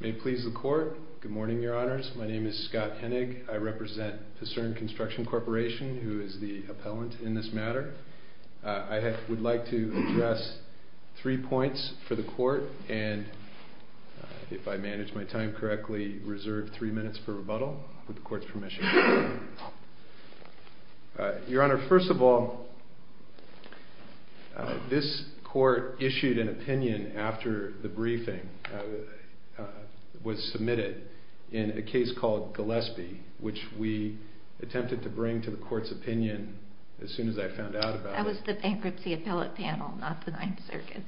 May it please the Court. Good morning, Your Honors. My name is Scott Hennig. I represent Picerne Construction Corporation, who is the appellant in this matter. I would like to address three points for the Court, and if I manage my time correctly, reserve three minutes for rebuttal, with the Court's permission. Your Honor, first of all, this Court issued an opinion after the briefing was submitted in a case called Gillespie, which we attempted to bring to the Court's opinion as soon as I found out about it. That was the bankruptcy appellate panel, not the Ninth Circuit.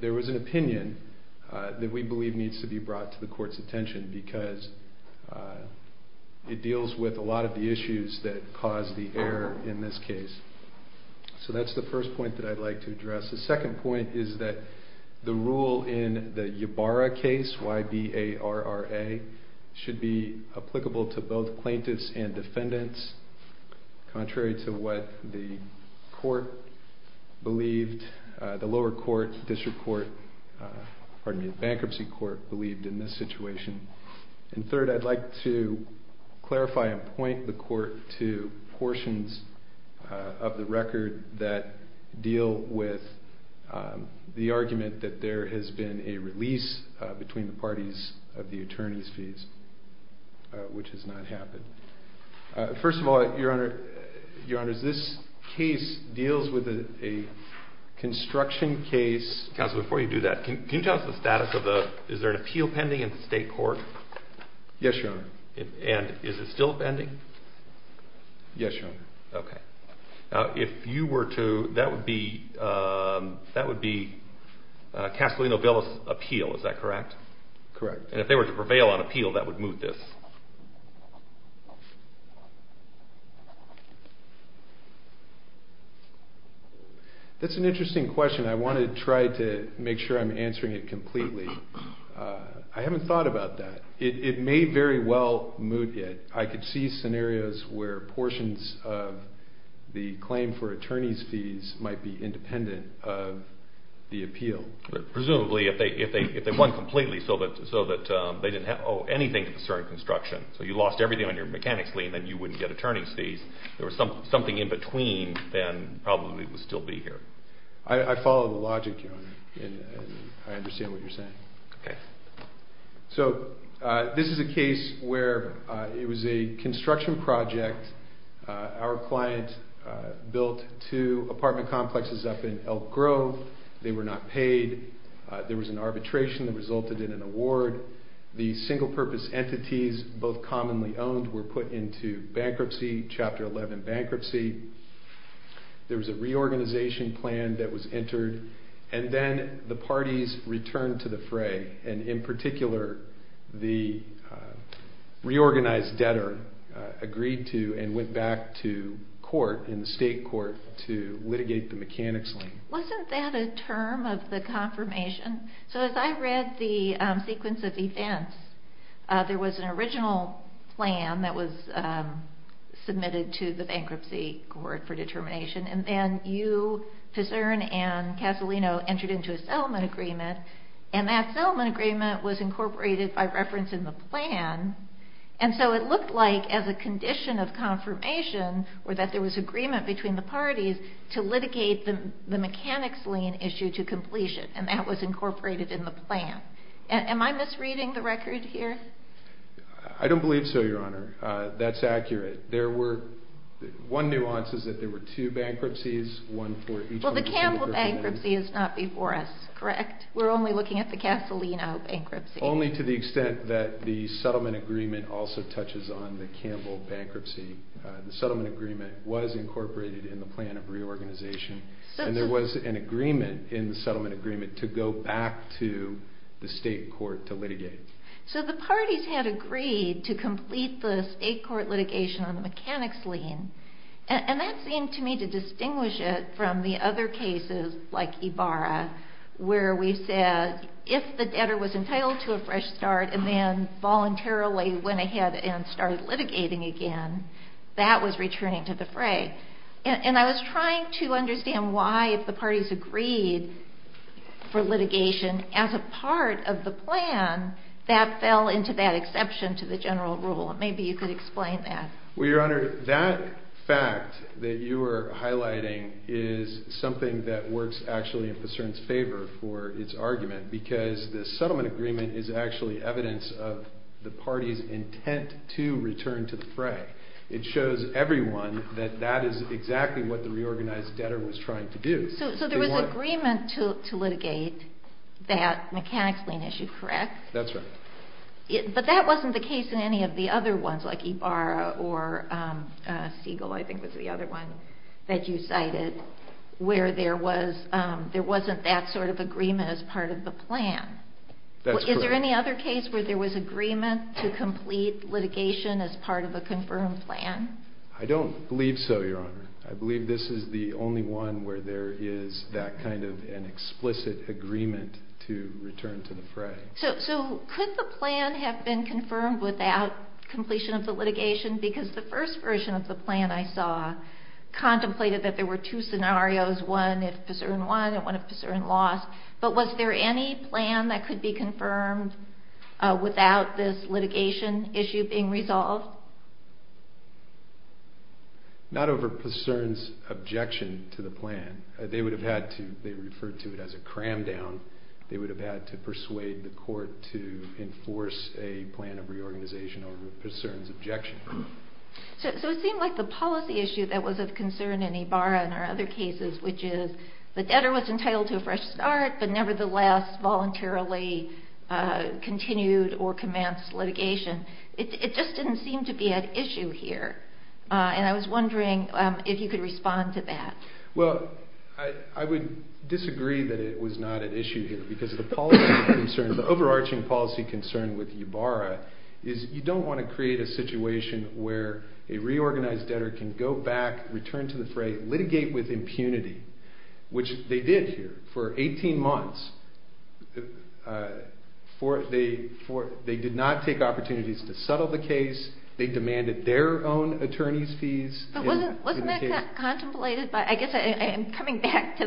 There was an opinion that we believe needs to be brought to the Court's attention because it deals with a lot of the issues that caused the error in this case. So that's the first point that I'd like to address. The second point is that the rule in the Ybarra case, Y-B-A-R-R-A, should be applicable to both plaintiffs and defendants, contrary to what the lower court, the bankruptcy court, believed in this situation. And third, I'd like to clarify and point the Court to portions of the record that deal with the argument that there has been a release between the parties of the attorney's fees, which has not happened. First of all, Your Honor, this case deals with a construction case. Counsel, before you do that, can you tell us the status of the… is there an appeal pending in the State Court? Yes, Your Honor. And is it still pending? Yes, Your Honor. Okay. Now, if you were to… that would be Casalino-Villas appeal, is that correct? Correct. And if they were to prevail on appeal, that would move this? That's an interesting question. I want to try to make sure I'm answering it completely. I haven't thought about that. It may very well move it. I could see scenarios where portions of the claim for attorney's fees might be independent of the appeal. Presumably, if they won completely so that they didn't owe anything to the certain construction, so you lost everything on your mechanics lien, then you wouldn't get attorney's fees. If there was something in between, then probably it would still be here. I follow the logic, Your Honor, and I understand what you're saying. Okay. So this is a case where it was a construction project. Our client built two apartment complexes up in Elk Grove. They were not paid. There was an arbitration that resulted in an award. The single-purpose entities, both commonly owned, were put into bankruptcy, Chapter 11 bankruptcy. There was a reorganization plan that was entered, and then the parties returned to the fray. In particular, the reorganized debtor agreed to and went back to court in the state court to litigate the mechanics lien. Wasn't that a term of the confirmation? So as I read the sequence of events, there was an original plan that was submitted to the bankruptcy court for determination, and then you, Pizerne, and Casalino entered into a settlement agreement, and that settlement agreement was incorporated by reference in the plan, and so it looked like, as a condition of confirmation, that there was agreement between the parties to litigate the mechanics lien issue to completion, and that was incorporated in the plan. Am I misreading the record here? I don't believe so, Your Honor. That's accurate. One nuance is that there were two bankruptcies. Well, the Campbell bankruptcy is not before us, correct? We're only looking at the Casalino bankruptcy. Only to the extent that the settlement agreement also touches on the Campbell bankruptcy. The settlement agreement was incorporated in the plan of reorganization, and there was an agreement in the settlement agreement to go back to the state court to litigate. So the parties had agreed to complete the state court litigation on the mechanics lien, and that seemed to me to distinguish it from the other cases, like Ibarra, where we said, if the debtor was entitled to a fresh start and then voluntarily went ahead and started litigating again, that was returning to the fray. And I was trying to understand why, if the parties agreed for litigation as a part of the plan, that fell into that exception to the general rule. Maybe you could explain that. Well, Your Honor, that fact that you are highlighting is something that works actually in Passeron's favor for his argument, because the settlement agreement is actually evidence of the parties' intent to return to the fray. It shows everyone that that is exactly what the reorganized debtor was trying to do. So there was agreement to litigate that mechanics lien issue, correct? That's right. But that wasn't the case in any of the other ones, like Ibarra or Siegel, I think was the other one that you cited, where there wasn't that sort of agreement as part of the plan. That's correct. Was there any other case where there was agreement to complete litigation as part of a confirmed plan? I don't believe so, Your Honor. I believe this is the only one where there is that kind of an explicit agreement to return to the fray. So could the plan have been confirmed without completion of the litigation? Because the first version of the plan I saw contemplated that there were two scenarios, one if Passeron won and one if Passeron lost. But was there any plan that could be confirmed without this litigation issue being resolved? Not over Passeron's objection to the plan. They would have had to, they referred to it as a cram down, they would have had to persuade the court to enforce a plan of reorganization over Passeron's objection. So it seemed like the policy issue that was of concern in Ibarra and our other cases, which is the debtor was entitled to a fresh start, but nevertheless voluntarily continued or commenced litigation. It just didn't seem to be an issue here, and I was wondering if you could respond to that. Well, I would disagree that it was not an issue here, because the policy concern, the overarching policy concern with Ibarra, is you don't want to create a situation where a reorganized debtor can go back, return to the fray, litigate with impunity, which they did here for 18 months. They did not take opportunities to settle the case. They demanded their own attorney's fees. But wasn't that contemplated by, I guess I'm coming back to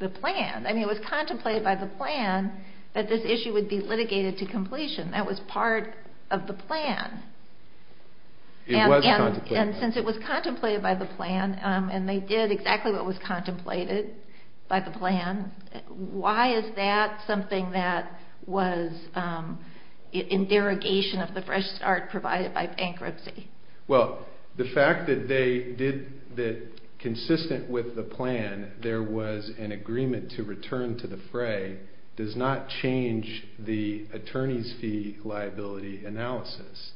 the plan. I mean it was contemplated by the plan that this issue would be litigated to completion. It was contemplated by the plan. And since it was contemplated by the plan, and they did exactly what was contemplated by the plan, why is that something that was in derogation of the fresh start provided by bankruptcy? Well, the fact that consistent with the plan there was an agreement to return to the fray does not change the attorney's fee liability analysis.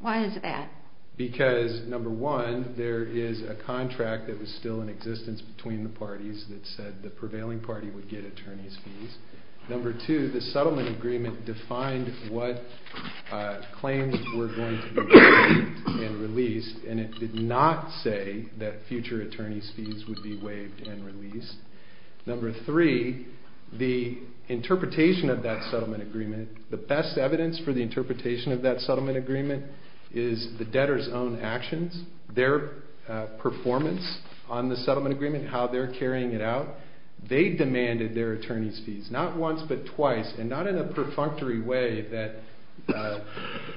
Why is that? Because, number one, there is a contract that was still in existence between the parties that said the prevailing party would get attorney's fees. Number two, the settlement agreement defined what claims were going to be waived and released, and it did not say that future attorney's fees would be waived and released. Number three, the interpretation of that settlement agreement, the best evidence for the interpretation of that settlement agreement is the debtor's own actions, their performance on the settlement agreement, how they're carrying it out. They demanded their attorney's fees, not once but twice, and not in a perfunctory way that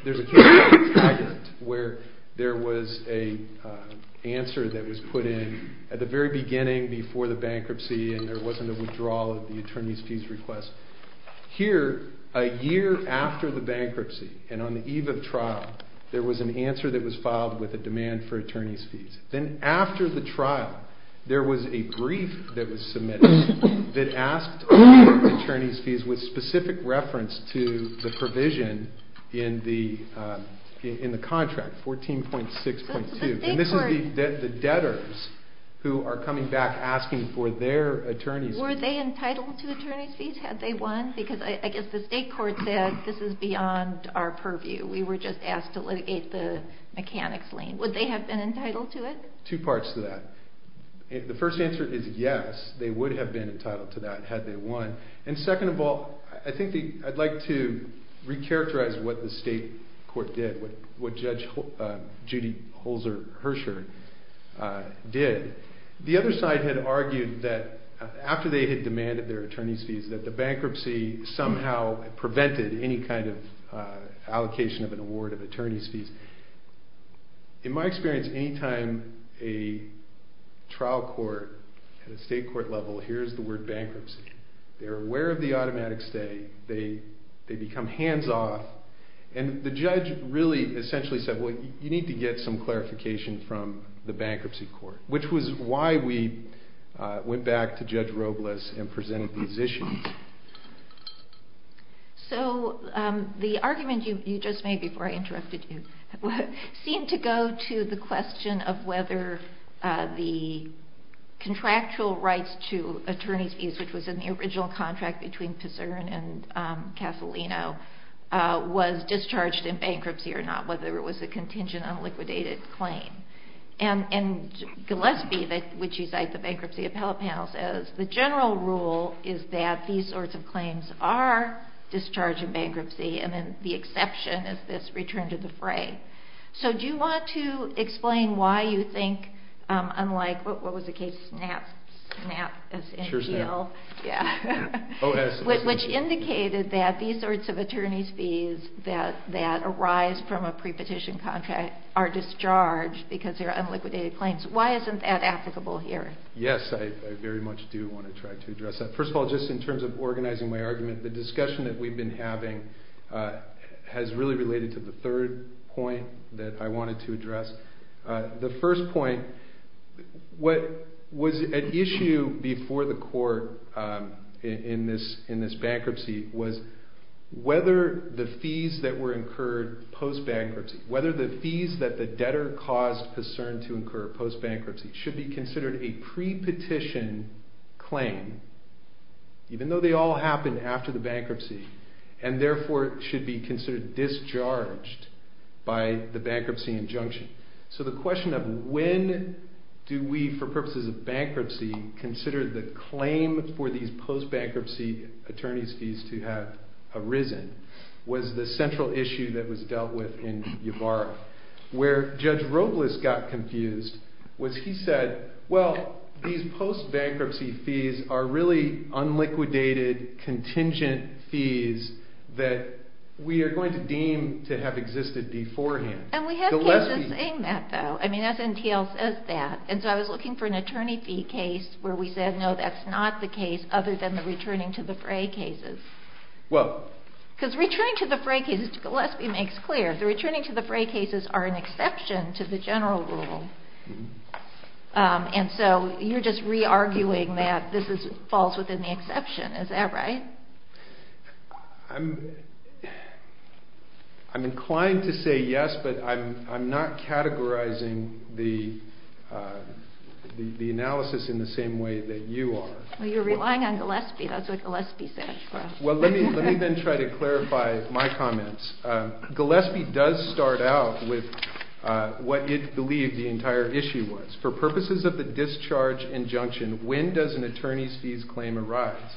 there's a case where there was an answer that was put in at the very beginning before the bankruptcy and there wasn't a withdrawal of the attorney's fees request. Here, a year after the bankruptcy and on the eve of trial, there was an answer that was filed with a demand for attorney's fees. Then after the trial, there was a brief that was submitted that asked for attorney's fees with specific reference to the provision in the contract, 14.6.2. And this is the debtors who are coming back asking for their attorney's fees. Were they entitled to attorney's fees had they won? Because I guess the state court said this is beyond our purview. We were just asked to litigate the mechanics lien. Would they have been entitled to it? Two parts to that. The first answer is yes, they would have been entitled to that had they won. And second of all, I think I'd like to recharacterize what the state court did, what Judge Judy Holzer-Hirscher did. The other side had argued that after they had demanded their attorney's fees that the bankruptcy somehow prevented any kind of allocation of an award of attorney's fees. In my experience, any time a trial court at a state court level hears the word bankruptcy, they're aware of the automatic stay, they become hands off, and the judge really essentially said, well, you need to get some clarification from the bankruptcy court, which was why we went back to Judge Robles and presented these issues. So the argument you just made before I interrupted you seemed to go to the question of whether the contractual rights to attorney's fees, which was in the original contract between Pizerne and Casolino, was discharged in bankruptcy or not, whether it was a contingent unliquidated claim. And Gillespie, which is like the bankruptcy appellate panel, says, the general rule is that these sorts of claims are discharged in bankruptcy and then the exception is this return to the fray. So do you want to explain why you think, unlike what was the case, SNAP, which indicated that these sorts of attorney's fees that arise from a prepetition contract are discharged because they're unliquidated claims. Why isn't that applicable here? Yes, I very much do want to try to address that. First of all, just in terms of organizing my argument, the discussion that we've been having has really related to the third point that I wanted to address. The first point, what was at issue before the court in this bankruptcy was whether the fees that were incurred post-bankruptcy, whether the fees that the debtor caused Pizerne to incur post-bankruptcy should be considered a prepetition claim, even though they all happened after the bankruptcy, and therefore should be considered discharged by the bankruptcy injunction. So the question of when do we, for purposes of bankruptcy, consider the claim for these post-bankruptcy attorney's fees to have arisen was the central issue that was dealt with in Yevara. Where Judge Robles got confused was he said, well, these post-bankruptcy fees are really unliquidated contingent fees that we are going to deem to have existed beforehand. And we have cases saying that, though. I mean, SNTL says that. And so I was looking for an attorney fee case where we said, no, that's not the case other than the returning to the fray cases. Because returning to the fray cases, Gillespie makes clear, the returning to the fray cases are an exception to the general rule. And so you're just re-arguing that this falls within the exception. Is that right? I'm inclined to say yes, but I'm not categorizing the analysis in the same way that you are. Well, you're relying on Gillespie. That's what Gillespie said. Well, let me then try to clarify my comments. Gillespie does start out with what it believed the entire issue was. For purposes of the discharge injunction, when does an attorney's fees claim arise?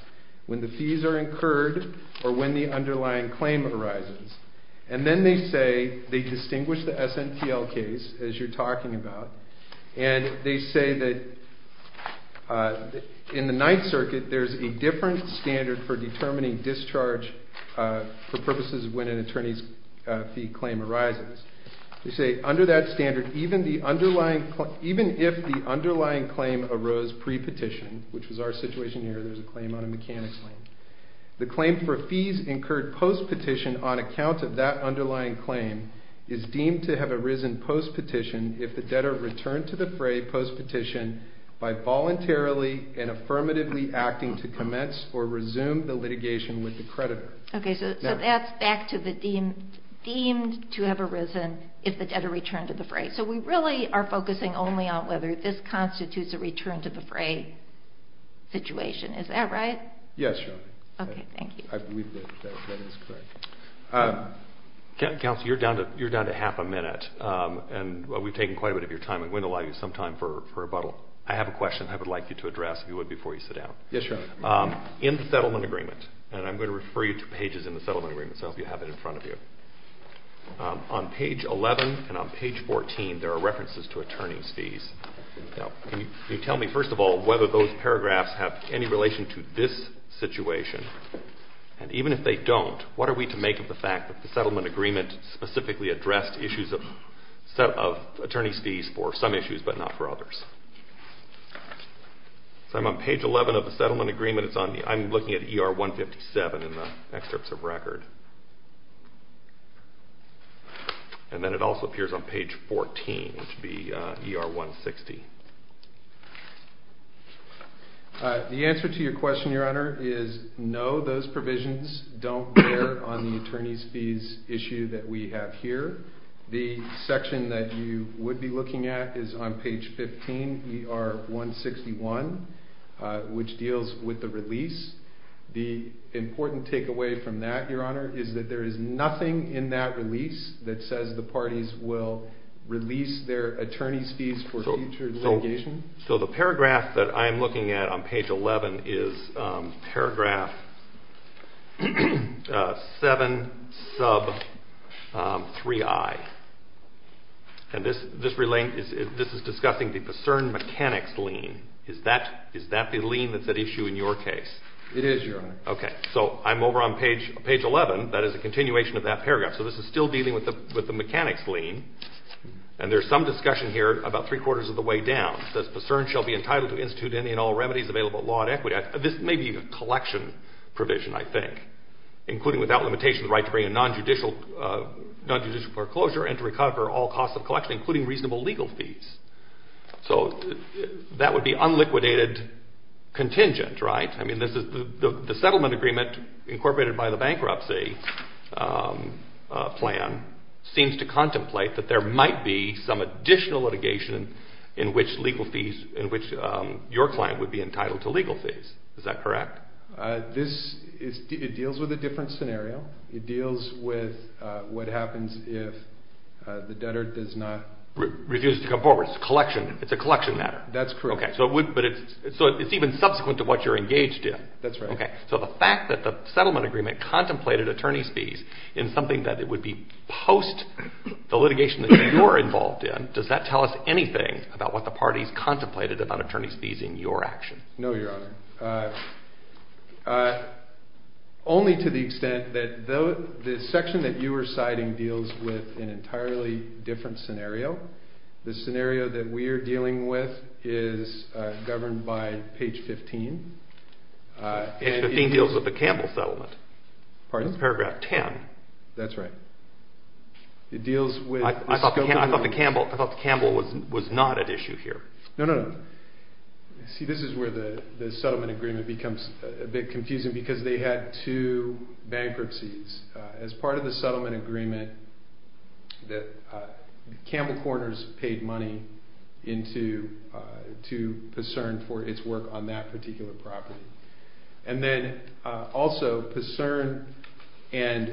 When the fees are incurred or when the underlying claim arises. And then they say, they distinguish the SNTL case, as you're talking about, and they say that in the Ninth Circuit, there's a different standard for determining discharge for purposes of when an attorney's fee claim arises. They say, under that standard, even if the underlying claim arose pre-petition, which was our situation here, there's a claim on a mechanic claim, the claim for fees incurred post-petition on account of that underlying claim is deemed to have arisen post-petition if the debtor returned to the fray post-petition by voluntarily and affirmatively acting to commence or resume the litigation with the creditor. Okay, so that's back to the deemed to have arisen if the debtor returned to the fray. So we really are focusing only on whether this constitutes a return to the fray situation. Is that right? Yes, Your Honor. Okay, thank you. I believe that that is correct. Counsel, you're down to half a minute, and we've taken quite a bit of your time. We wouldn't allow you some time for rebuttal. I have a question I would like you to address, if you would, before you sit down. Yes, Your Honor. In the settlement agreement, and I'm going to refer you to pages in the settlement agreement, so I hope you have it in front of you. On page 11 and on page 14, there are references to attorney's fees. Now, can you tell me, first of all, whether those paragraphs have any relation to this situation? And even if they don't, what are we to make of the fact that the settlement agreement specifically addressed issues of attorney's fees for some issues but not for others? So I'm on page 11 of the settlement agreement. I'm looking at ER 157 in the excerpts of record. And then it also appears on page 14, which would be ER 160. The answer to your question, Your Honor, is no, those provisions don't bear on the attorney's fees issue that we have here. The section that you would be looking at is on page 15, ER 161, which deals with the release. The important takeaway from that, Your Honor, is that there is nothing in that release that says the parties will release their attorney's fees for future litigation. So the paragraph that I am looking at on page 11 is paragraph 7, sub 3i. And this is discussing the discern mechanics lien. Is that the lien that's at issue in your case? It is, Your Honor. Okay, so I'm over on page 11. That is a continuation of that paragraph. So this is still dealing with the mechanics lien. And there's some discussion here about three-quarters of the way down. It says, This may be a collection provision, I think. So that would be unliquidated contingent, right? I mean, the settlement agreement incorporated by the bankruptcy plan seems to contemplate that there might be some additional litigation in which your client would be entitled to legal fees. Is that correct? It deals with a different scenario. It deals with what happens if the debtor does not Refuse to come forward. It's a collection matter. That's correct. So it's even subsequent to what you're engaged in. That's right. So the fact that the settlement agreement contemplated attorney's fees in something that it would be post the litigation that you're involved in, does that tell us anything about what the parties contemplated about attorney's fees in your action? No, Your Honor. Only to the extent that the section that you are citing deals with an entirely different scenario. The scenario that we are dealing with is governed by page 15. Page 15 deals with the Campbell settlement. Pardon? Paragraph 10. That's right. It deals with I thought the Campbell was not at issue here. No, no, no. See, this is where the settlement agreement becomes a bit confusing because they had two bankruptcies. As part of the settlement agreement, Campbell Corners paid money to Pucern for its work on that particular property. And then also Pucern and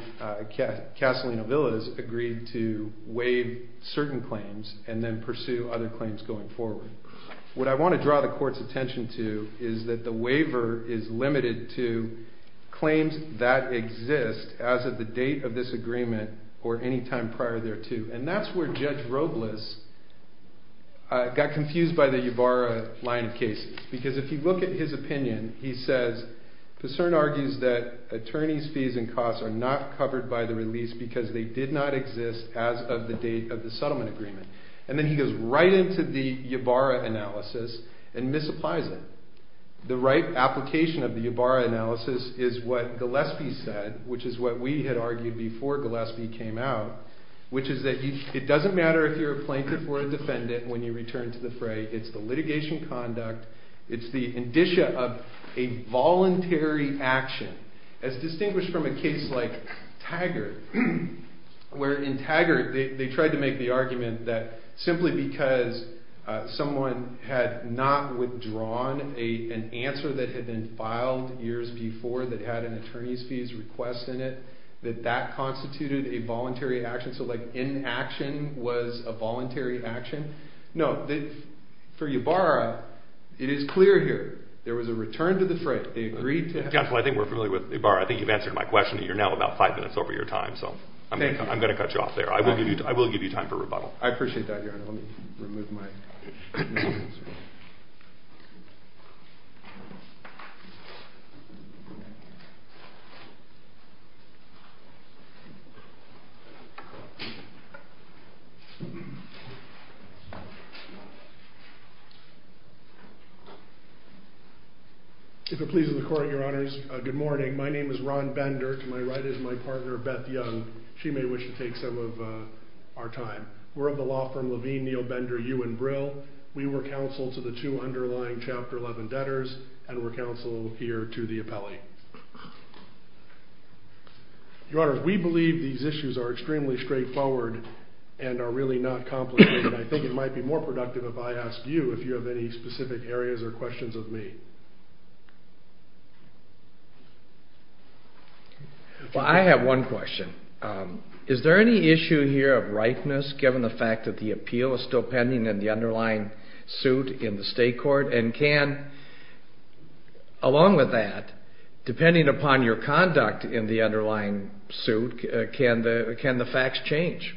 Castellino Villas agreed to waive certain claims and then pursue other claims going forward. What I want to draw the court's attention to is that the waiver is limited to claims that exist as of the date of this agreement or any time prior thereto. And that's where Judge Robles got confused by the Ybarra line of cases because if you look at his opinion, he says, Pucern argues that attorneys' fees and costs are not covered by the release because they did not exist as of the date of the settlement agreement. And then he goes right into the Ybarra analysis and misapplies it. The right application of the Ybarra analysis is what Gillespie said, which is what we had argued before Gillespie came out, which is that it doesn't matter if you're a plaintiff or a defendant when you return to the fray. It's the litigation conduct. It's the indicia of a voluntary action as distinguished from a case like Taggart, where in Taggart they tried to make the argument that simply because someone had not withdrawn an answer that had been filed years before that had an attorney's fees request in it, that that constituted a voluntary action. So like inaction was a voluntary action. No, for Ybarra, it is clear here. There was a return to the fray. They agreed to it. Well, I think we're familiar with Ybarra. I think you've answered my question. You're now about five minutes over your time, so I'm going to cut you off there. I will give you time for rebuttal. I appreciate that, Your Honor. Let me remove my headphones. If it pleases the Court, Your Honors, good morning. My name is Ron Bender. To my right is my partner, Beth Young. She may wish to take some of our time. We're of the law firm Levine, Neal Bender, You and Brill. We were counsel to the two underlying Chapter 11 debtors and were counsel here to the appellee. Your Honors, we believe these issues are extremely straightforward and are really not complicated. I think it might be more productive if I ask you if you have any specific areas or questions of me. Well, I have one question. Is there any issue here of ripeness, given the fact that the appeal is still pending in the underlying suit in the State Court? And can, along with that, depending upon your conduct in the underlying suit, can the facts change?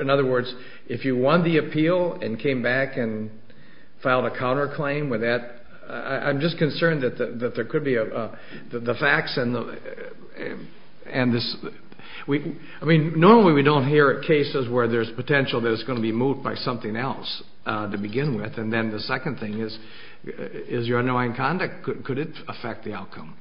In other words, if you won the appeal and came back and filed a counterclaim with that, I'm just concerned that there could be a... the facts and this... I mean, normally we don't hear cases where there's potential that it's going to be moved by something else to begin with, and then the second thing is your underlying conduct. Could it affect the outcome?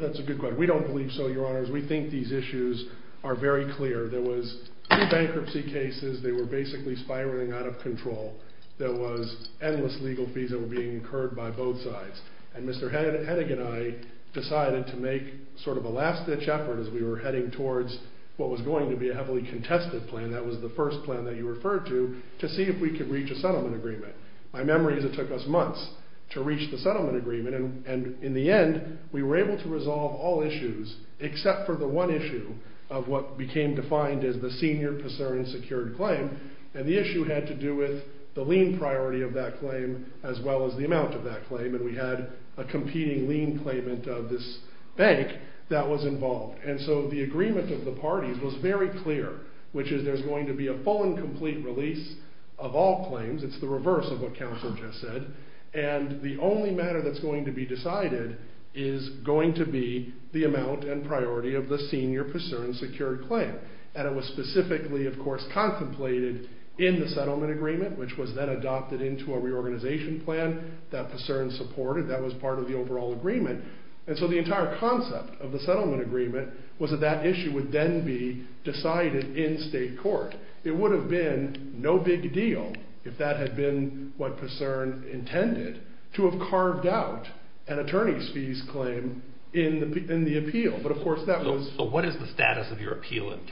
That's a good question. We don't believe so, Your Honors. We think these issues are very clear. There was two bankruptcy cases. They were basically spiraling out of control. There was endless legal fees that were being incurred by both sides, and Mr. Hennig and I decided to make sort of a last-ditch effort as we were heading towards what was going to be a heavily contested plan. That was the first plan that you referred to to see if we could reach a settlement agreement. My memory is it took us months to reach the settlement agreement, and in the end, we were able to resolve all issues except for the one issue of what became defined as the senior PASERN secured claim, and the issue had to do with the lien priority of that claim as well as the amount of that claim, and we had a competing lien claimant of this bank that was involved. And so the agreement of the parties was very clear, which is there's going to be a full and complete release of all claims. It's the reverse of what counsel just said, and the only matter that's going to be decided is going to be the amount and priority of the senior PASERN secured claim, and it was specifically, of course, contemplated in the settlement agreement, which was then adopted into a reorganization plan that PASERN supported. That was part of the overall agreement, and so the entire concept of the settlement agreement was that that issue would then be decided in state court. It would have been no big deal if that had been what PASERN intended to have carved out an attorney's fees claim in the appeal. But of course that was... So what is the status of your appeal in the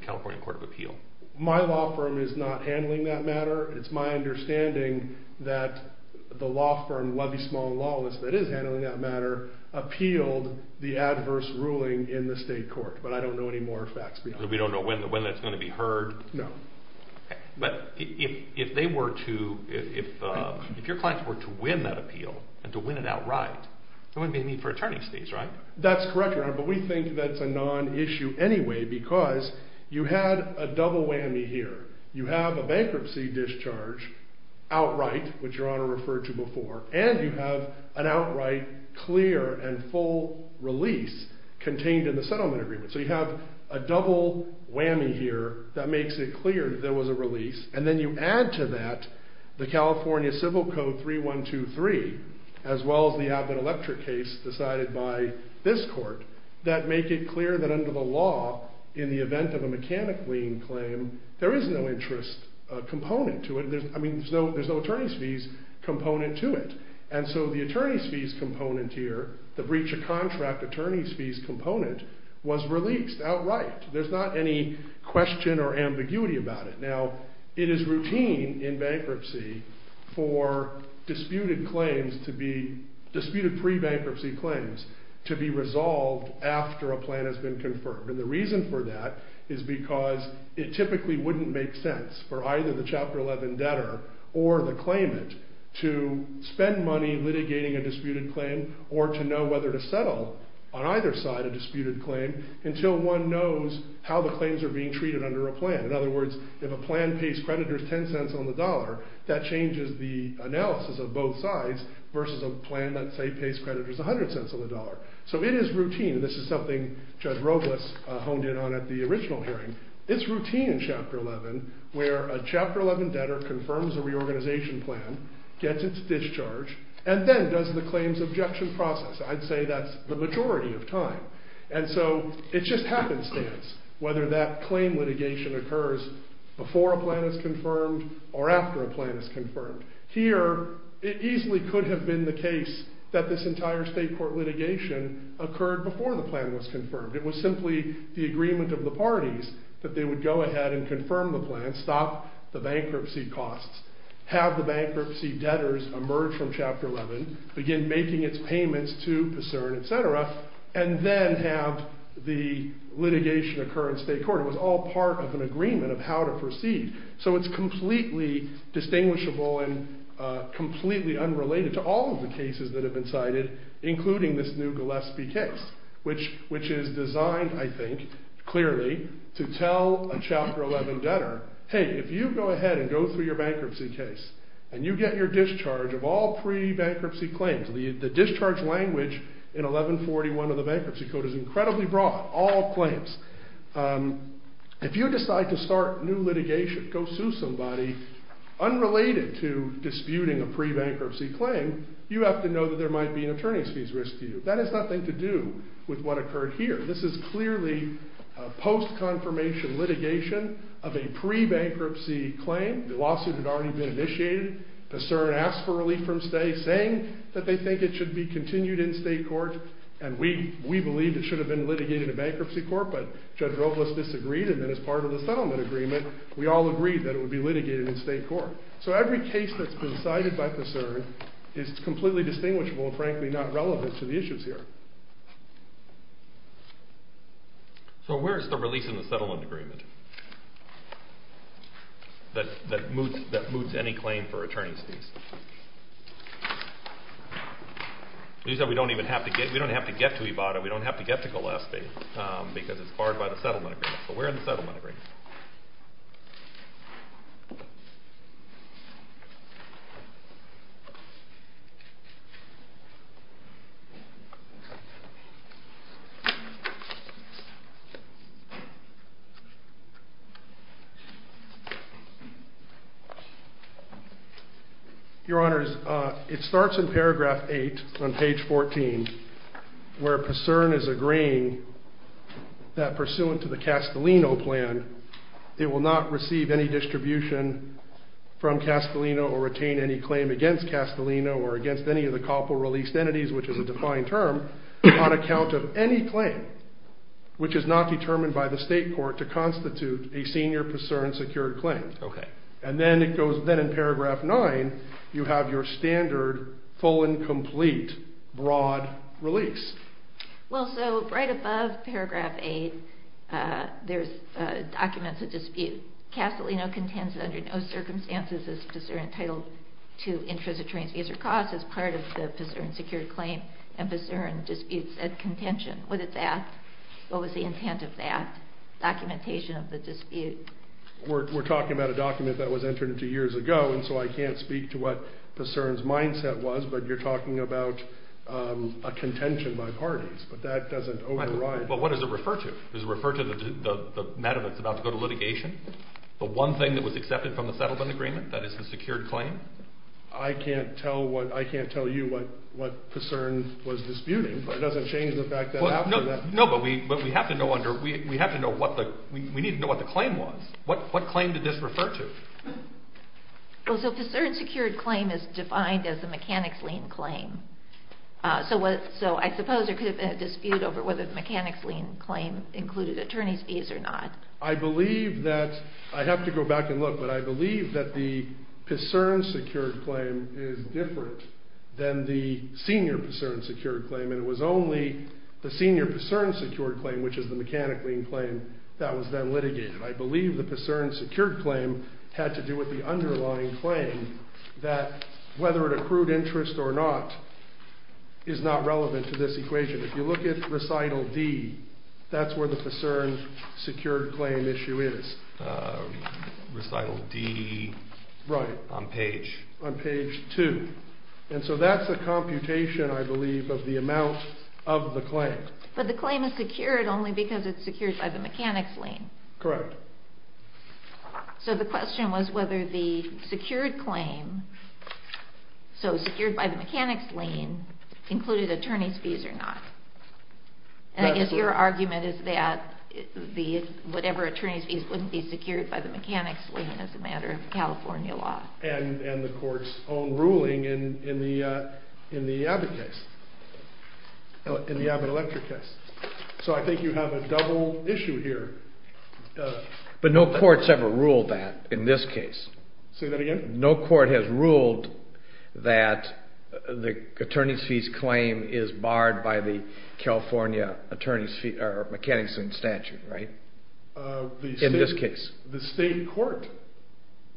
California Court of Appeal? My law firm is not handling that matter. It's my understanding that the law firm, Levy Small and Lawless, that is handling that matter, appealed the adverse ruling in the state court, but I don't know any more facts behind that. So we don't know when that's going to be heard? No. But if they were to... If your clients were to win that appeal and to win it outright, there wouldn't be a need for attorney's fees, right? That's correct, Your Honor, but we think that's a non-issue anyway because you had a double whammy here. You have a bankruptcy discharge outright, which Your Honor referred to before, and you have an outright clear and full release contained in the settlement agreement. So you have a double whammy here that makes it clear there was a release, and then you add to that the California Civil Code 3123, as well as the Abbott Electric case decided by this court, that make it clear that under the law, in the event of a mechanic lien claim, there is no interest component to it. I mean, there's no attorney's fees component to it. And so the attorney's fees component here, the breach of contract attorney's fees component, was released outright. There's not any question or ambiguity about it. Now, it is routine in bankruptcy for disputed claims to be... disputed pre-bankruptcy claims to be resolved after a plan has been confirmed. And the reason for that is because it typically wouldn't make sense for either the Chapter 11 debtor or the claimant to spend money litigating a disputed claim or to know whether to settle on either side a disputed claim until one knows how the claims are being treated under a plan. In other words, if a plan pays creditors 10 cents on the dollar, that changes the analysis of both sides versus a plan that, say, pays creditors 100 cents on the dollar. So it is routine, and this is something Judge Robles honed in on at the original hearing. It's routine in Chapter 11 where a Chapter 11 debtor confirms a reorganization plan, gets its discharge, and then does the claims objection process. I'd say that's the majority of time. And so it's just happenstance whether that claim litigation occurs before a plan is confirmed or after a plan is confirmed. Here, it easily could have been the case that this entire state court litigation occurred before the plan was confirmed. It was simply the agreement of the parties that they would go ahead and confirm the plan, stop the bankruptcy costs, have the bankruptcy debtors emerge from Chapter 11, begin making its payments to PERSERN, etc., and then have the litigation occur in state court. It was all part of an agreement of how to proceed. So it's completely distinguishable and completely unrelated to all of the cases that have been cited, including this new Gillespie case, which is designed, I think, clearly, to tell a Chapter 11 debtor, hey, if you go ahead and go through your bankruptcy case and you get your discharge of all pre-bankruptcy claims, the discharge language in 1141 of the Bankruptcy Code is incredibly broad, all claims. If you decide to start new litigation, go sue somebody unrelated to disputing a pre-bankruptcy claim, you have to know that there might be an attorney's fees risk to you. That has nothing to do with what occurred here. This is clearly a post-confirmation litigation of a pre-bankruptcy claim. The lawsuit had already been initiated. PERSERN asked for relief from state, saying that they think it should be continued in state court, and we believe it should have been litigated in bankruptcy court, but Judge Robles disagreed, and then as part of the settlement agreement, we all agreed that it would be litigated in state court. So every case that's been cited by PERSERN is completely distinguishable and frankly not relevant to the issues here. that moots any claim for attorney's fees? It means that we don't even have to get to Ibotta, we don't have to get to Gillespie, because it's barred by the settlement agreement. So we're in the settlement agreement. Your Honor, it starts in paragraph 8 on page 14, where PERSERN is agreeing that pursuant to the Castellino plan, it will not receive any distribution from Castellino or retain any claim against Castellino or against any of the COPL released entities, which is a defined term, on account of any claim which is not determined by the state court to constitute a senior PERSERN secured claim. And then in paragraph 9, you have your standard full and complete broad release. Well, so right above paragraph 8, there's documents of dispute. Castellino contends that under no circumstances is PERSERN entitled to interest or attorney's fees or costs as part of the PERSERN secured claim and PERSERN disputes at contention. What is that? What was the intent of that documentation of the dispute? We're talking about a document that was entered into years ago, and so I can't speak to what PERSERN's mindset was, but you're talking about a contention by parties, but that doesn't override... Well, what does it refer to? Does it refer to the matter that's about to go to litigation? The one thing that was accepted from the settlement agreement, that is the secured claim? I can't tell you what PERSERN was disputing, but it doesn't change the fact that after that... No, but we have to know what the claim was. What claim did this refer to? Well, so PERSERN secured claim is defined as the mechanics lien claim. So I suppose there could have been a dispute over whether the mechanics lien claim included attorney's fees or not. I believe that... I'd have to go back and look, but I believe that the PERSERN secured claim is different than the senior PERSERN secured claim, and it was only the senior PERSERN secured claim, which is the mechanics lien claim, that was then litigated. I believe the PERSERN secured claim had to do with the underlying claim that whether it accrued interest or not is not relevant to this equation. If you look at recital D, that's where the PERSERN secured claim issue is. Recital D... Right. On page... On page 2. And so that's a computation, I believe, of the amount of the claim. But the claim is secured only because it's secured by the mechanics lien. Correct. So the question was whether the secured claim, so secured by the mechanics lien, included attorney's fees or not. And I guess your argument is that whatever attorney's fees wouldn't be secured by the mechanics lien as a matter of California law. And the court's own ruling in the Abbott case, in the Abbott Electric case. So I think you have a double issue here. But no court's ever ruled that in this case. Say that again? No court has ruled that the attorney's fees claim is barred by the California mechanics lien statute, right? In this case. The state court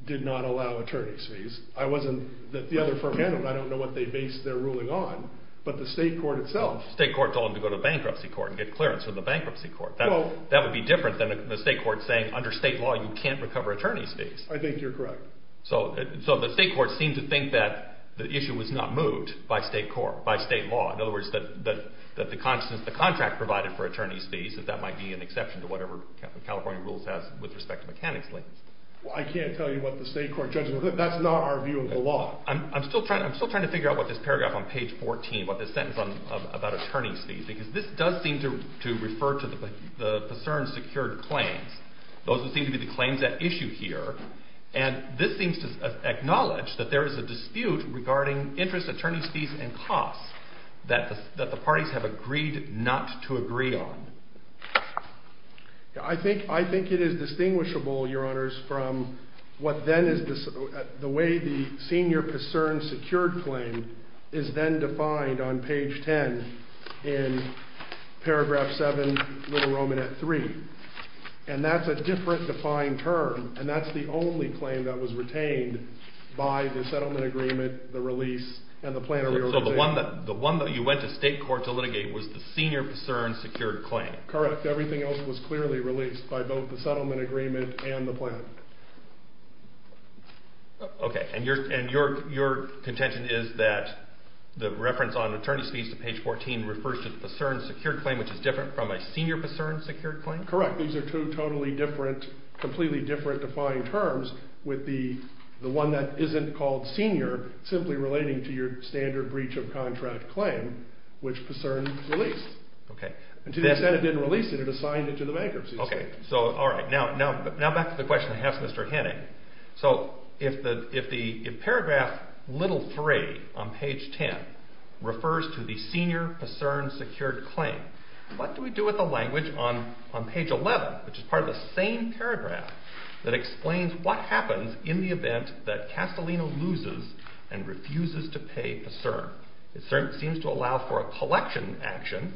did not allow attorney's fees. The other firm handled it. I don't know what they based their ruling on, but the state court itself... You can't go to the bankruptcy court and get clearance from the bankruptcy court. That would be different than the state court saying under state law you can't recover attorney's fees. I think you're correct. So the state court seemed to think that the issue was not moved by state law. In other words, that the contract provided for attorney's fees, that that might be an exception to whatever California rules has with respect to mechanics liens. I can't tell you what the state court judgment... That's not our view of the law. I'm still trying to figure out what this paragraph on page 14, what this sentence about attorney's fees, because this does seem to refer to the PASERN secured claims, those that seem to be the claims at issue here, and this seems to acknowledge that there is a dispute regarding interest, attorney's fees, and costs that the parties have agreed not to agree on. I think it is distinguishable, Your Honors, from what then is... The way the senior PASERN secured claim is then defined on page 10 in paragraph 7, Little Roman at 3, and that's a different defined term, and that's the only claim that was retained by the settlement agreement, the release, and the plan... So the one that you went to state court to litigate was the senior PASERN secured claim. Correct. Everything else was clearly released by both the settlement agreement and the plan. Okay, and your contention is that the reference on attorney's fees to page 14 refers to the PASERN secured claim, which is different from a senior PASERN secured claim? Correct. These are two totally different, completely different defined terms with the one that isn't called senior simply relating to your standard breach of contract claim, which PASERN released. And to the extent it didn't release it, it assigned it to the bankruptcy suit. Okay, so all right. Now back to the question I asked Mr. Henning. So if paragraph little 3 on page 10 refers to the senior PASERN secured claim, what do we do with the language on page 11, which is part of the same paragraph that explains what happens in the event that Castellino loses and refuses to pay PASERN? PASERN seems to allow for a collection action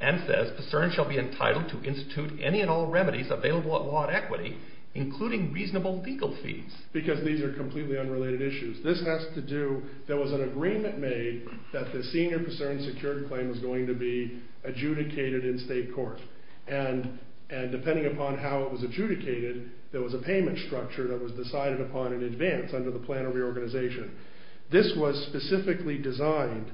and says PASERN shall be entitled to institute any and all remedies available at law and equity, including reasonable legal fees. Because these are completely unrelated issues. This has to do... there was an agreement made that the senior PASERN secured claim was going to be adjudicated in state court. And depending upon how it was adjudicated, there was a payment structure that was decided upon in advance under the plan of reorganization. This was specifically designed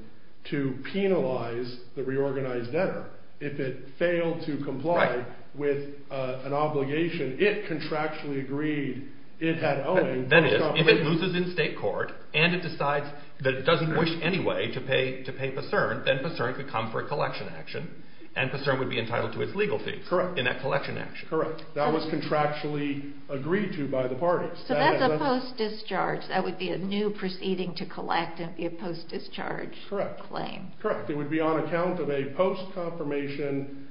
to penalize the reorganized debtor. If it failed to comply with an obligation, it contractually agreed it had owing. That is, if it loses in state court and it decides that it doesn't wish anyway to pay PASERN, then PASERN could come for a collection action and PASERN would be entitled to its legal fees in that collection action. Correct. That was contractually agreed to by the parties. So that's a post-discharge. and be a post-discharge claim. Correct. It would be on account of a post-confirmation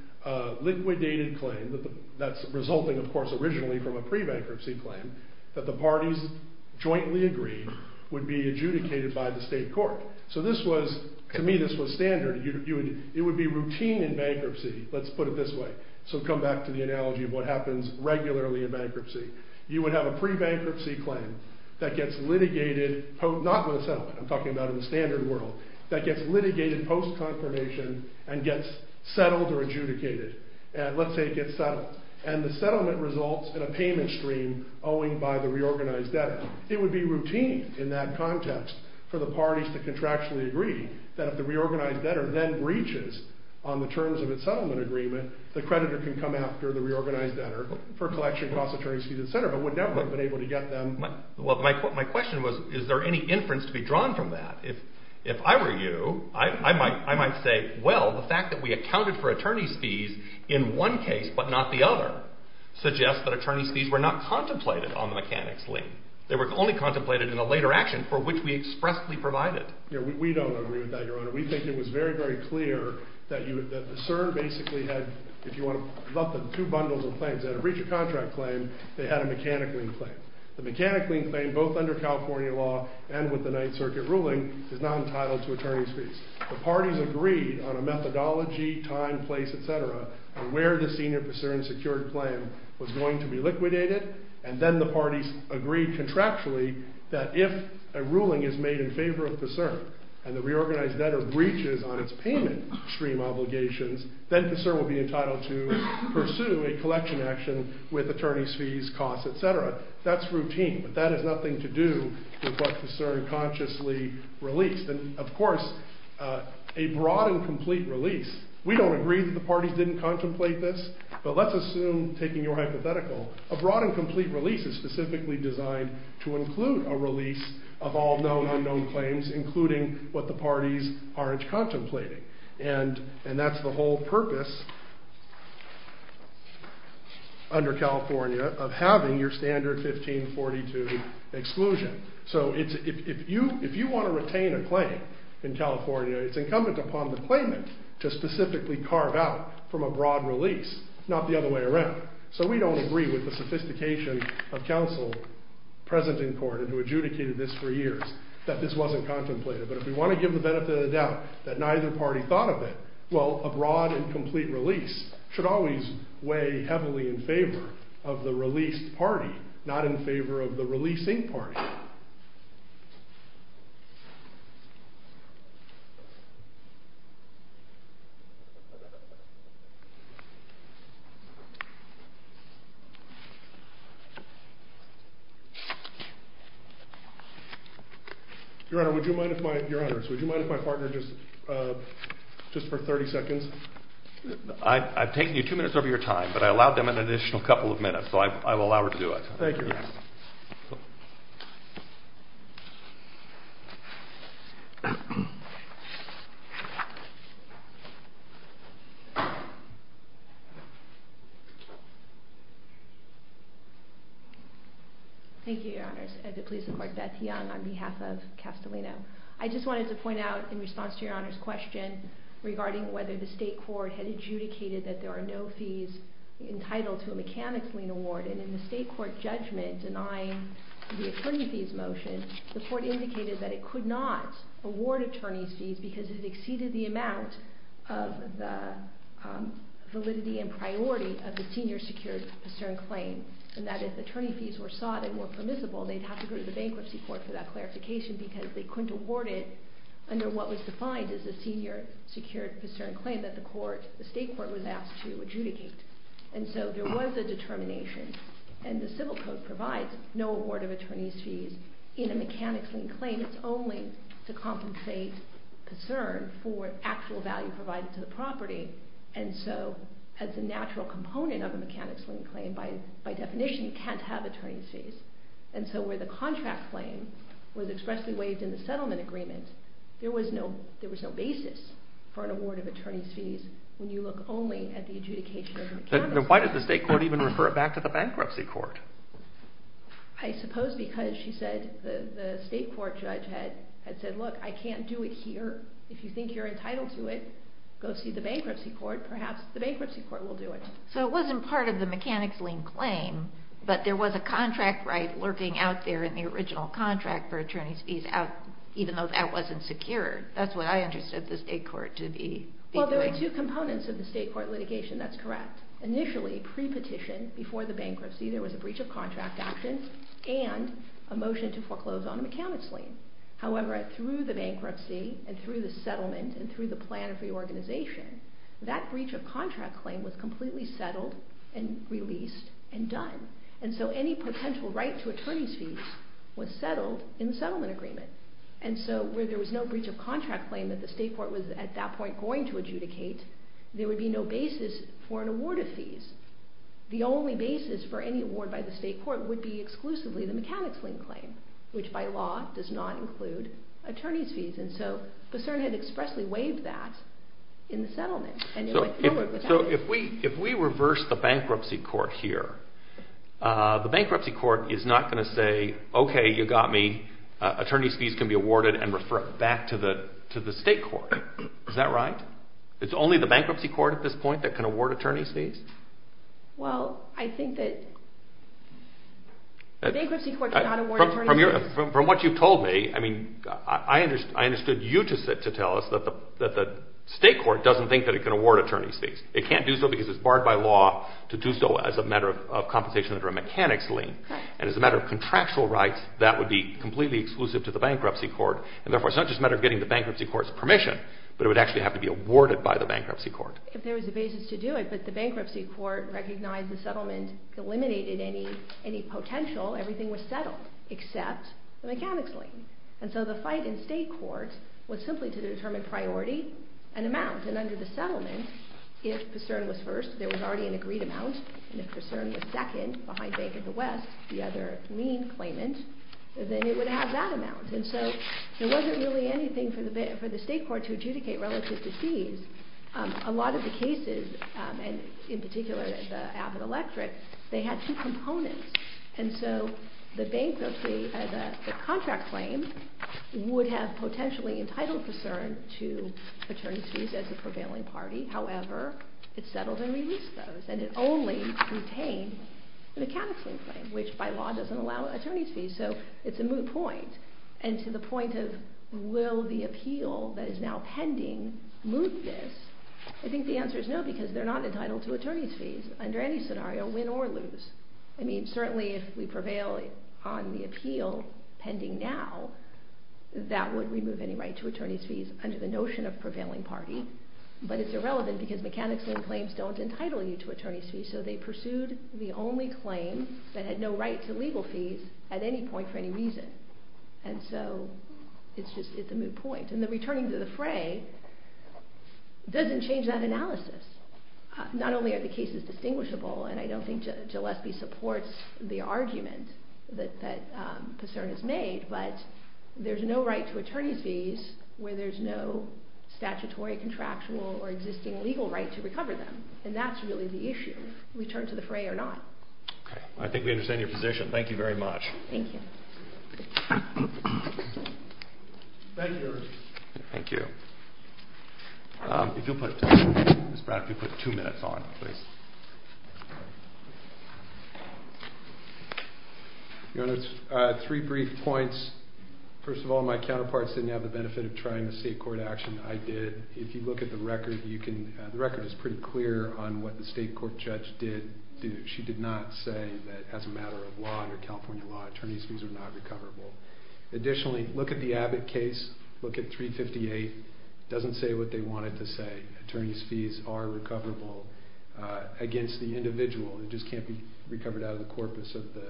liquidated claim that's resulting, of course, originally from a pre-bankruptcy claim that the parties jointly agreed would be adjudicated by the state court. So this was, to me, this was standard. It would be routine in bankruptcy. Let's put it this way. So come back to the analogy of what happens regularly in bankruptcy. You would have a pre-bankruptcy claim that gets litigated, not with a settlement, I'm talking about in the standard world, that gets litigated post-confirmation and gets settled or adjudicated. Let's say it gets settled. And the settlement results in a payment stream owing by the reorganized debtor. It would be routine in that context for the parties to contractually agree that if the reorganized debtor then breaches on the terms of its settlement agreement, the creditor can come after the reorganized debtor for collection, cost of attorney's fees, etc., but would never have been able to get them. My question was, is there any inference to be drawn from that? If I were you, I might say, well, the fact that we accounted for attorney's fees in one case but not the other suggests that attorney's fees were not contemplated on the mechanics lien. They were only contemplated in a later action for which we expressly provided. We don't agree with that, Your Honor. We think it was very, very clear that the CERN basically had, if you want to lump them, two bundles of claims. They had a breach of contract claim. They had a mechanic lien claim. The mechanic lien claim, both under California law and with the Ninth Circuit ruling, is not entitled to attorney's fees. The parties agreed on a methodology, time, place, etc., on where the senior PCERN secured claim was going to be liquidated, and then the parties agreed contractually that if a ruling is made in favor of PCERN and the reorganized debtor breaches on its payment stream obligations, then PCERN will be entitled to pursue a collection action with attorney's fees, costs, etc. That's routine, but that has nothing to do with what PCERN consciously released. And of course, a broad and complete release, we don't agree that the parties didn't contemplate this, but let's assume, taking your hypothetical, a broad and complete release is specifically designed to include a release of all known unknown claims, including what the parties aren't contemplating. And that's the whole purpose under California of having your standard 1542 exclusion. So if you want to retain a claim in California, it's incumbent upon the claimant to specifically carve out from a broad release, not the other way around. So we don't agree with the sophistication of counsel present in court and who adjudicated this for years, that this wasn't contemplated. But if we want to give the benefit of the doubt that neither party thought of it, well, a broad and complete release should always weigh heavily in favor of the released party, not in favor of the releasing party. Your Honor, would you mind if my partner, just for 30 seconds? I've taken you two minutes over your time, but I allowed them an additional couple of minutes, so I will allow her to do it. Thank you. Thank you, Your Honors. I'd like to please report Beth Young on behalf of Castellino. I just wanted to point out, in response to Your Honor's question regarding whether the state court had adjudicated that there are no fees entitled to a mechanic's lien award, and in the state court judgment denying the attorney fees motion, the court indicated that it could not award attorney's fees because it exceeded the amount of the validity and priority of the senior secured posturing claim, and that if attorney fees were sought and were permissible, they'd have to go to the bankruptcy court for that clarification because they couldn't award it under what was defined as a senior secured posturing claim that the state court was asked to adjudicate. And so there was a determination, and the civil code provides no award of attorney's fees in a mechanic's lien claim. It's only to compensate posturing for actual value provided to the property, and so as a natural component of a mechanic's lien claim, by definition, you can't have attorney's fees. And so where the contract claim was expressly waived in the settlement agreement, there was no basis for an award of attorney's fees when you look only at the adjudication of the mechanic's lien. Then why did the state court even refer it back to the bankruptcy court? I suppose because, she said, the state court judge had said, look, I can't do it here. If you think you're entitled to it, go see the bankruptcy court. Perhaps the bankruptcy court will do it. So it wasn't part of the mechanic's lien claim, but there was a contract right lurking out there in the original contract for attorney's fees, even though that wasn't secure. That's what I understood the state court to be doing. Well, there are two components of the state court litigation. That's correct. Initially, pre-petition, before the bankruptcy, there was a breach of contract action and a motion to foreclose on a mechanic's lien. However, through the bankruptcy and through the settlement and through the plan of reorganization, that breach of contract claim was completely settled and released and done. And so any potential right to attorney's fees was settled in the settlement agreement. And so where there was no breach of contract claim that the state court was, at that point, going to adjudicate, there would be no basis for an award of fees. The only basis for any award by the state court would be exclusively the mechanic's lien claim, which by law does not include attorney's fees. And so Bousserne had expressly waived that in the settlement. So if we reverse the bankruptcy court here, the bankruptcy court is not going to say, okay, you got me, attorney's fees can be awarded and refer it back to the state court. Is that right? It's only the bankruptcy court at this point that can award attorney's fees? Well, I think that... The bankruptcy court cannot award attorney's fees. From what you've told me, I understood you to tell us that the state court doesn't think that it can award attorney's fees. It can't do so because it's barred by law to do so as a matter of compensation under a mechanic's lien. And as a matter of contractual rights, that would be completely exclusive to the bankruptcy court. And therefore, it's not just a matter of getting the bankruptcy court's permission, but it would actually have to be awarded by the bankruptcy court. If there was a basis to do it, but the bankruptcy court recognized the settlement eliminated any potential, everything was settled except the mechanic's lien. And so the fight in state court was simply to determine priority and amount. And under the settlement, if Bousserne was first, there was already an agreed amount. And if Bousserne was second, behind Bank of the West, the other lien claimant, then it would have that amount. And so there wasn't really anything for the state court to adjudicate relative to fees. A lot of the cases, and in particular the Abbott Electric, they had two components. And so the bankruptcy, the contract claim, would have potentially entitled Bousserne to attorney's fees as a prevailing party. However, it settled and released those. And it only retained the mechanic's lien claim, which by law doesn't allow attorney's fees. So it's a moot point. And to the point of, will the appeal that is now pending moot this? I think the answer is no, because they're not entitled to attorney's fees under any scenario, win or lose. I mean, certainly if we prevail on the appeal pending now, that would remove any right to attorney's fees under the notion of prevailing party. But it's irrelevant because mechanic's lien claims don't entitle you to attorney's fees. So they pursued the only claim that had no right to legal fees at any point for any reason. And so it's just a moot point. And the returning to the fray doesn't change that analysis. Not only are the cases distinguishable, and I don't think Gillespie supports the argument that Bousserne has made, but there's no right to attorney's fees where there's no statutory, contractual, or existing legal right to recover them. And that's really the issue. Return to the fray or not. I think we understand your position. Thank you very much. Thank you. Thank you. If you'll put, Ms. Brown, if you'll put two minutes on, please. Your Honor, three brief points. First of all, my counterparts didn't have the benefit of trying the state court action. I did. If you look at the record, the record is pretty clear on what the state court judge did do. She did not say that as a matter of law, or California law, attorney's fees are not recoverable. Additionally, look at the Abbott case. Look at 358. It doesn't say what they want it to say. Attorney's fees are recoverable against the individual. It just can't be recovered out of the corpus of the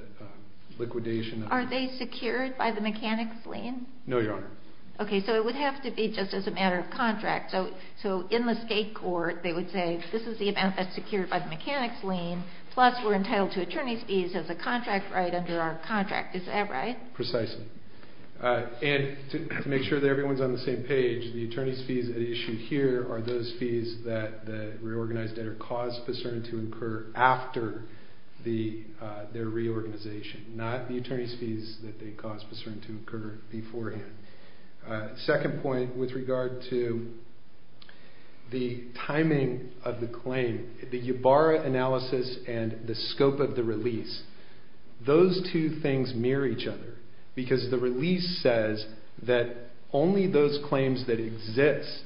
liquidation. Are they secured by the mechanic's lien? No, Your Honor. It would have to be just as a matter of contract. In the state court, they would say this is the amount that's secured by the mechanic's lien, plus we're entitled to attorney's fees as a contract right under our contract. Is that right? Precisely. To make sure that everyone's on the same page, the attorney's fees at issue here are those fees that the reorganized debtor caused Pacerno to incur after their reorganization, not the attorney's fees that they caused Pacerno to incur beforehand. Second point, with regard to the timing of the claim, the Yabarra analysis and the scope of the release, those two things mirror each other because the release says that only those claims that exist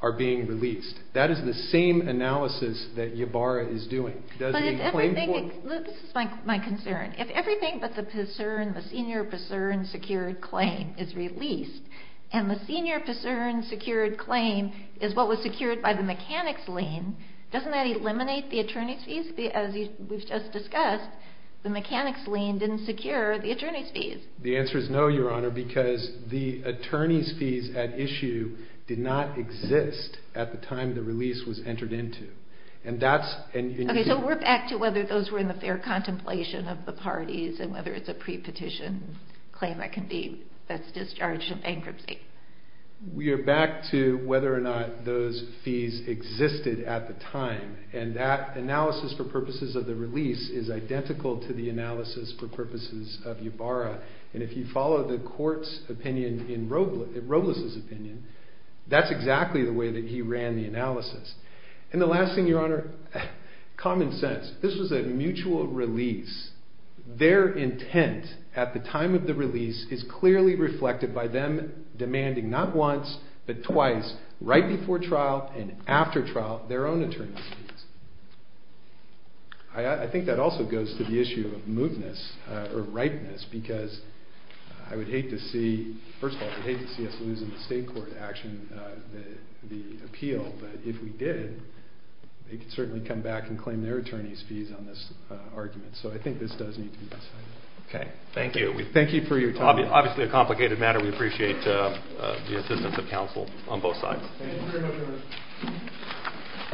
are being released. That is the same analysis that Yabarra is doing. This is my concern. If everything but the Pacerno, the senior Pacerno secured claim is released, and the senior Pacerno secured claim is what was secured by the mechanic's lien, doesn't that eliminate the attorney's fees? As we've just discussed, the mechanic's lien didn't secure the attorney's fees. The answer is no, Your Honor, because the attorney's fees at issue did not exist at the time the release was entered into. We're back to whether those were in the fair contemplation of the parties and whether it's a pre-petition claim that can be discharged in bankruptcy. We are back to whether or not those fees existed at the time, and that analysis for purposes of the release is identical to the analysis for purposes of Yabarra. If you follow the court's opinion and Robles' opinion, that's exactly the way that he ran the analysis. And the last thing, Your Honor, common sense. This was a mutual release. Their intent at the time of the release is clearly reflected by them demanding not once, but twice, right before trial and after trial their own attorney's fees. I think that also goes to the issue of mootness, or ripeness, because I would hate to see first of all, I would hate to see us losing the State Court action, the appeal, but if we did they could certainly come back and claim their attorney's fees on this argument. So I think this does need to be decided. Thank you. Thank you for your time. Obviously a complicated matter. We appreciate the assistance of counsel on both sides.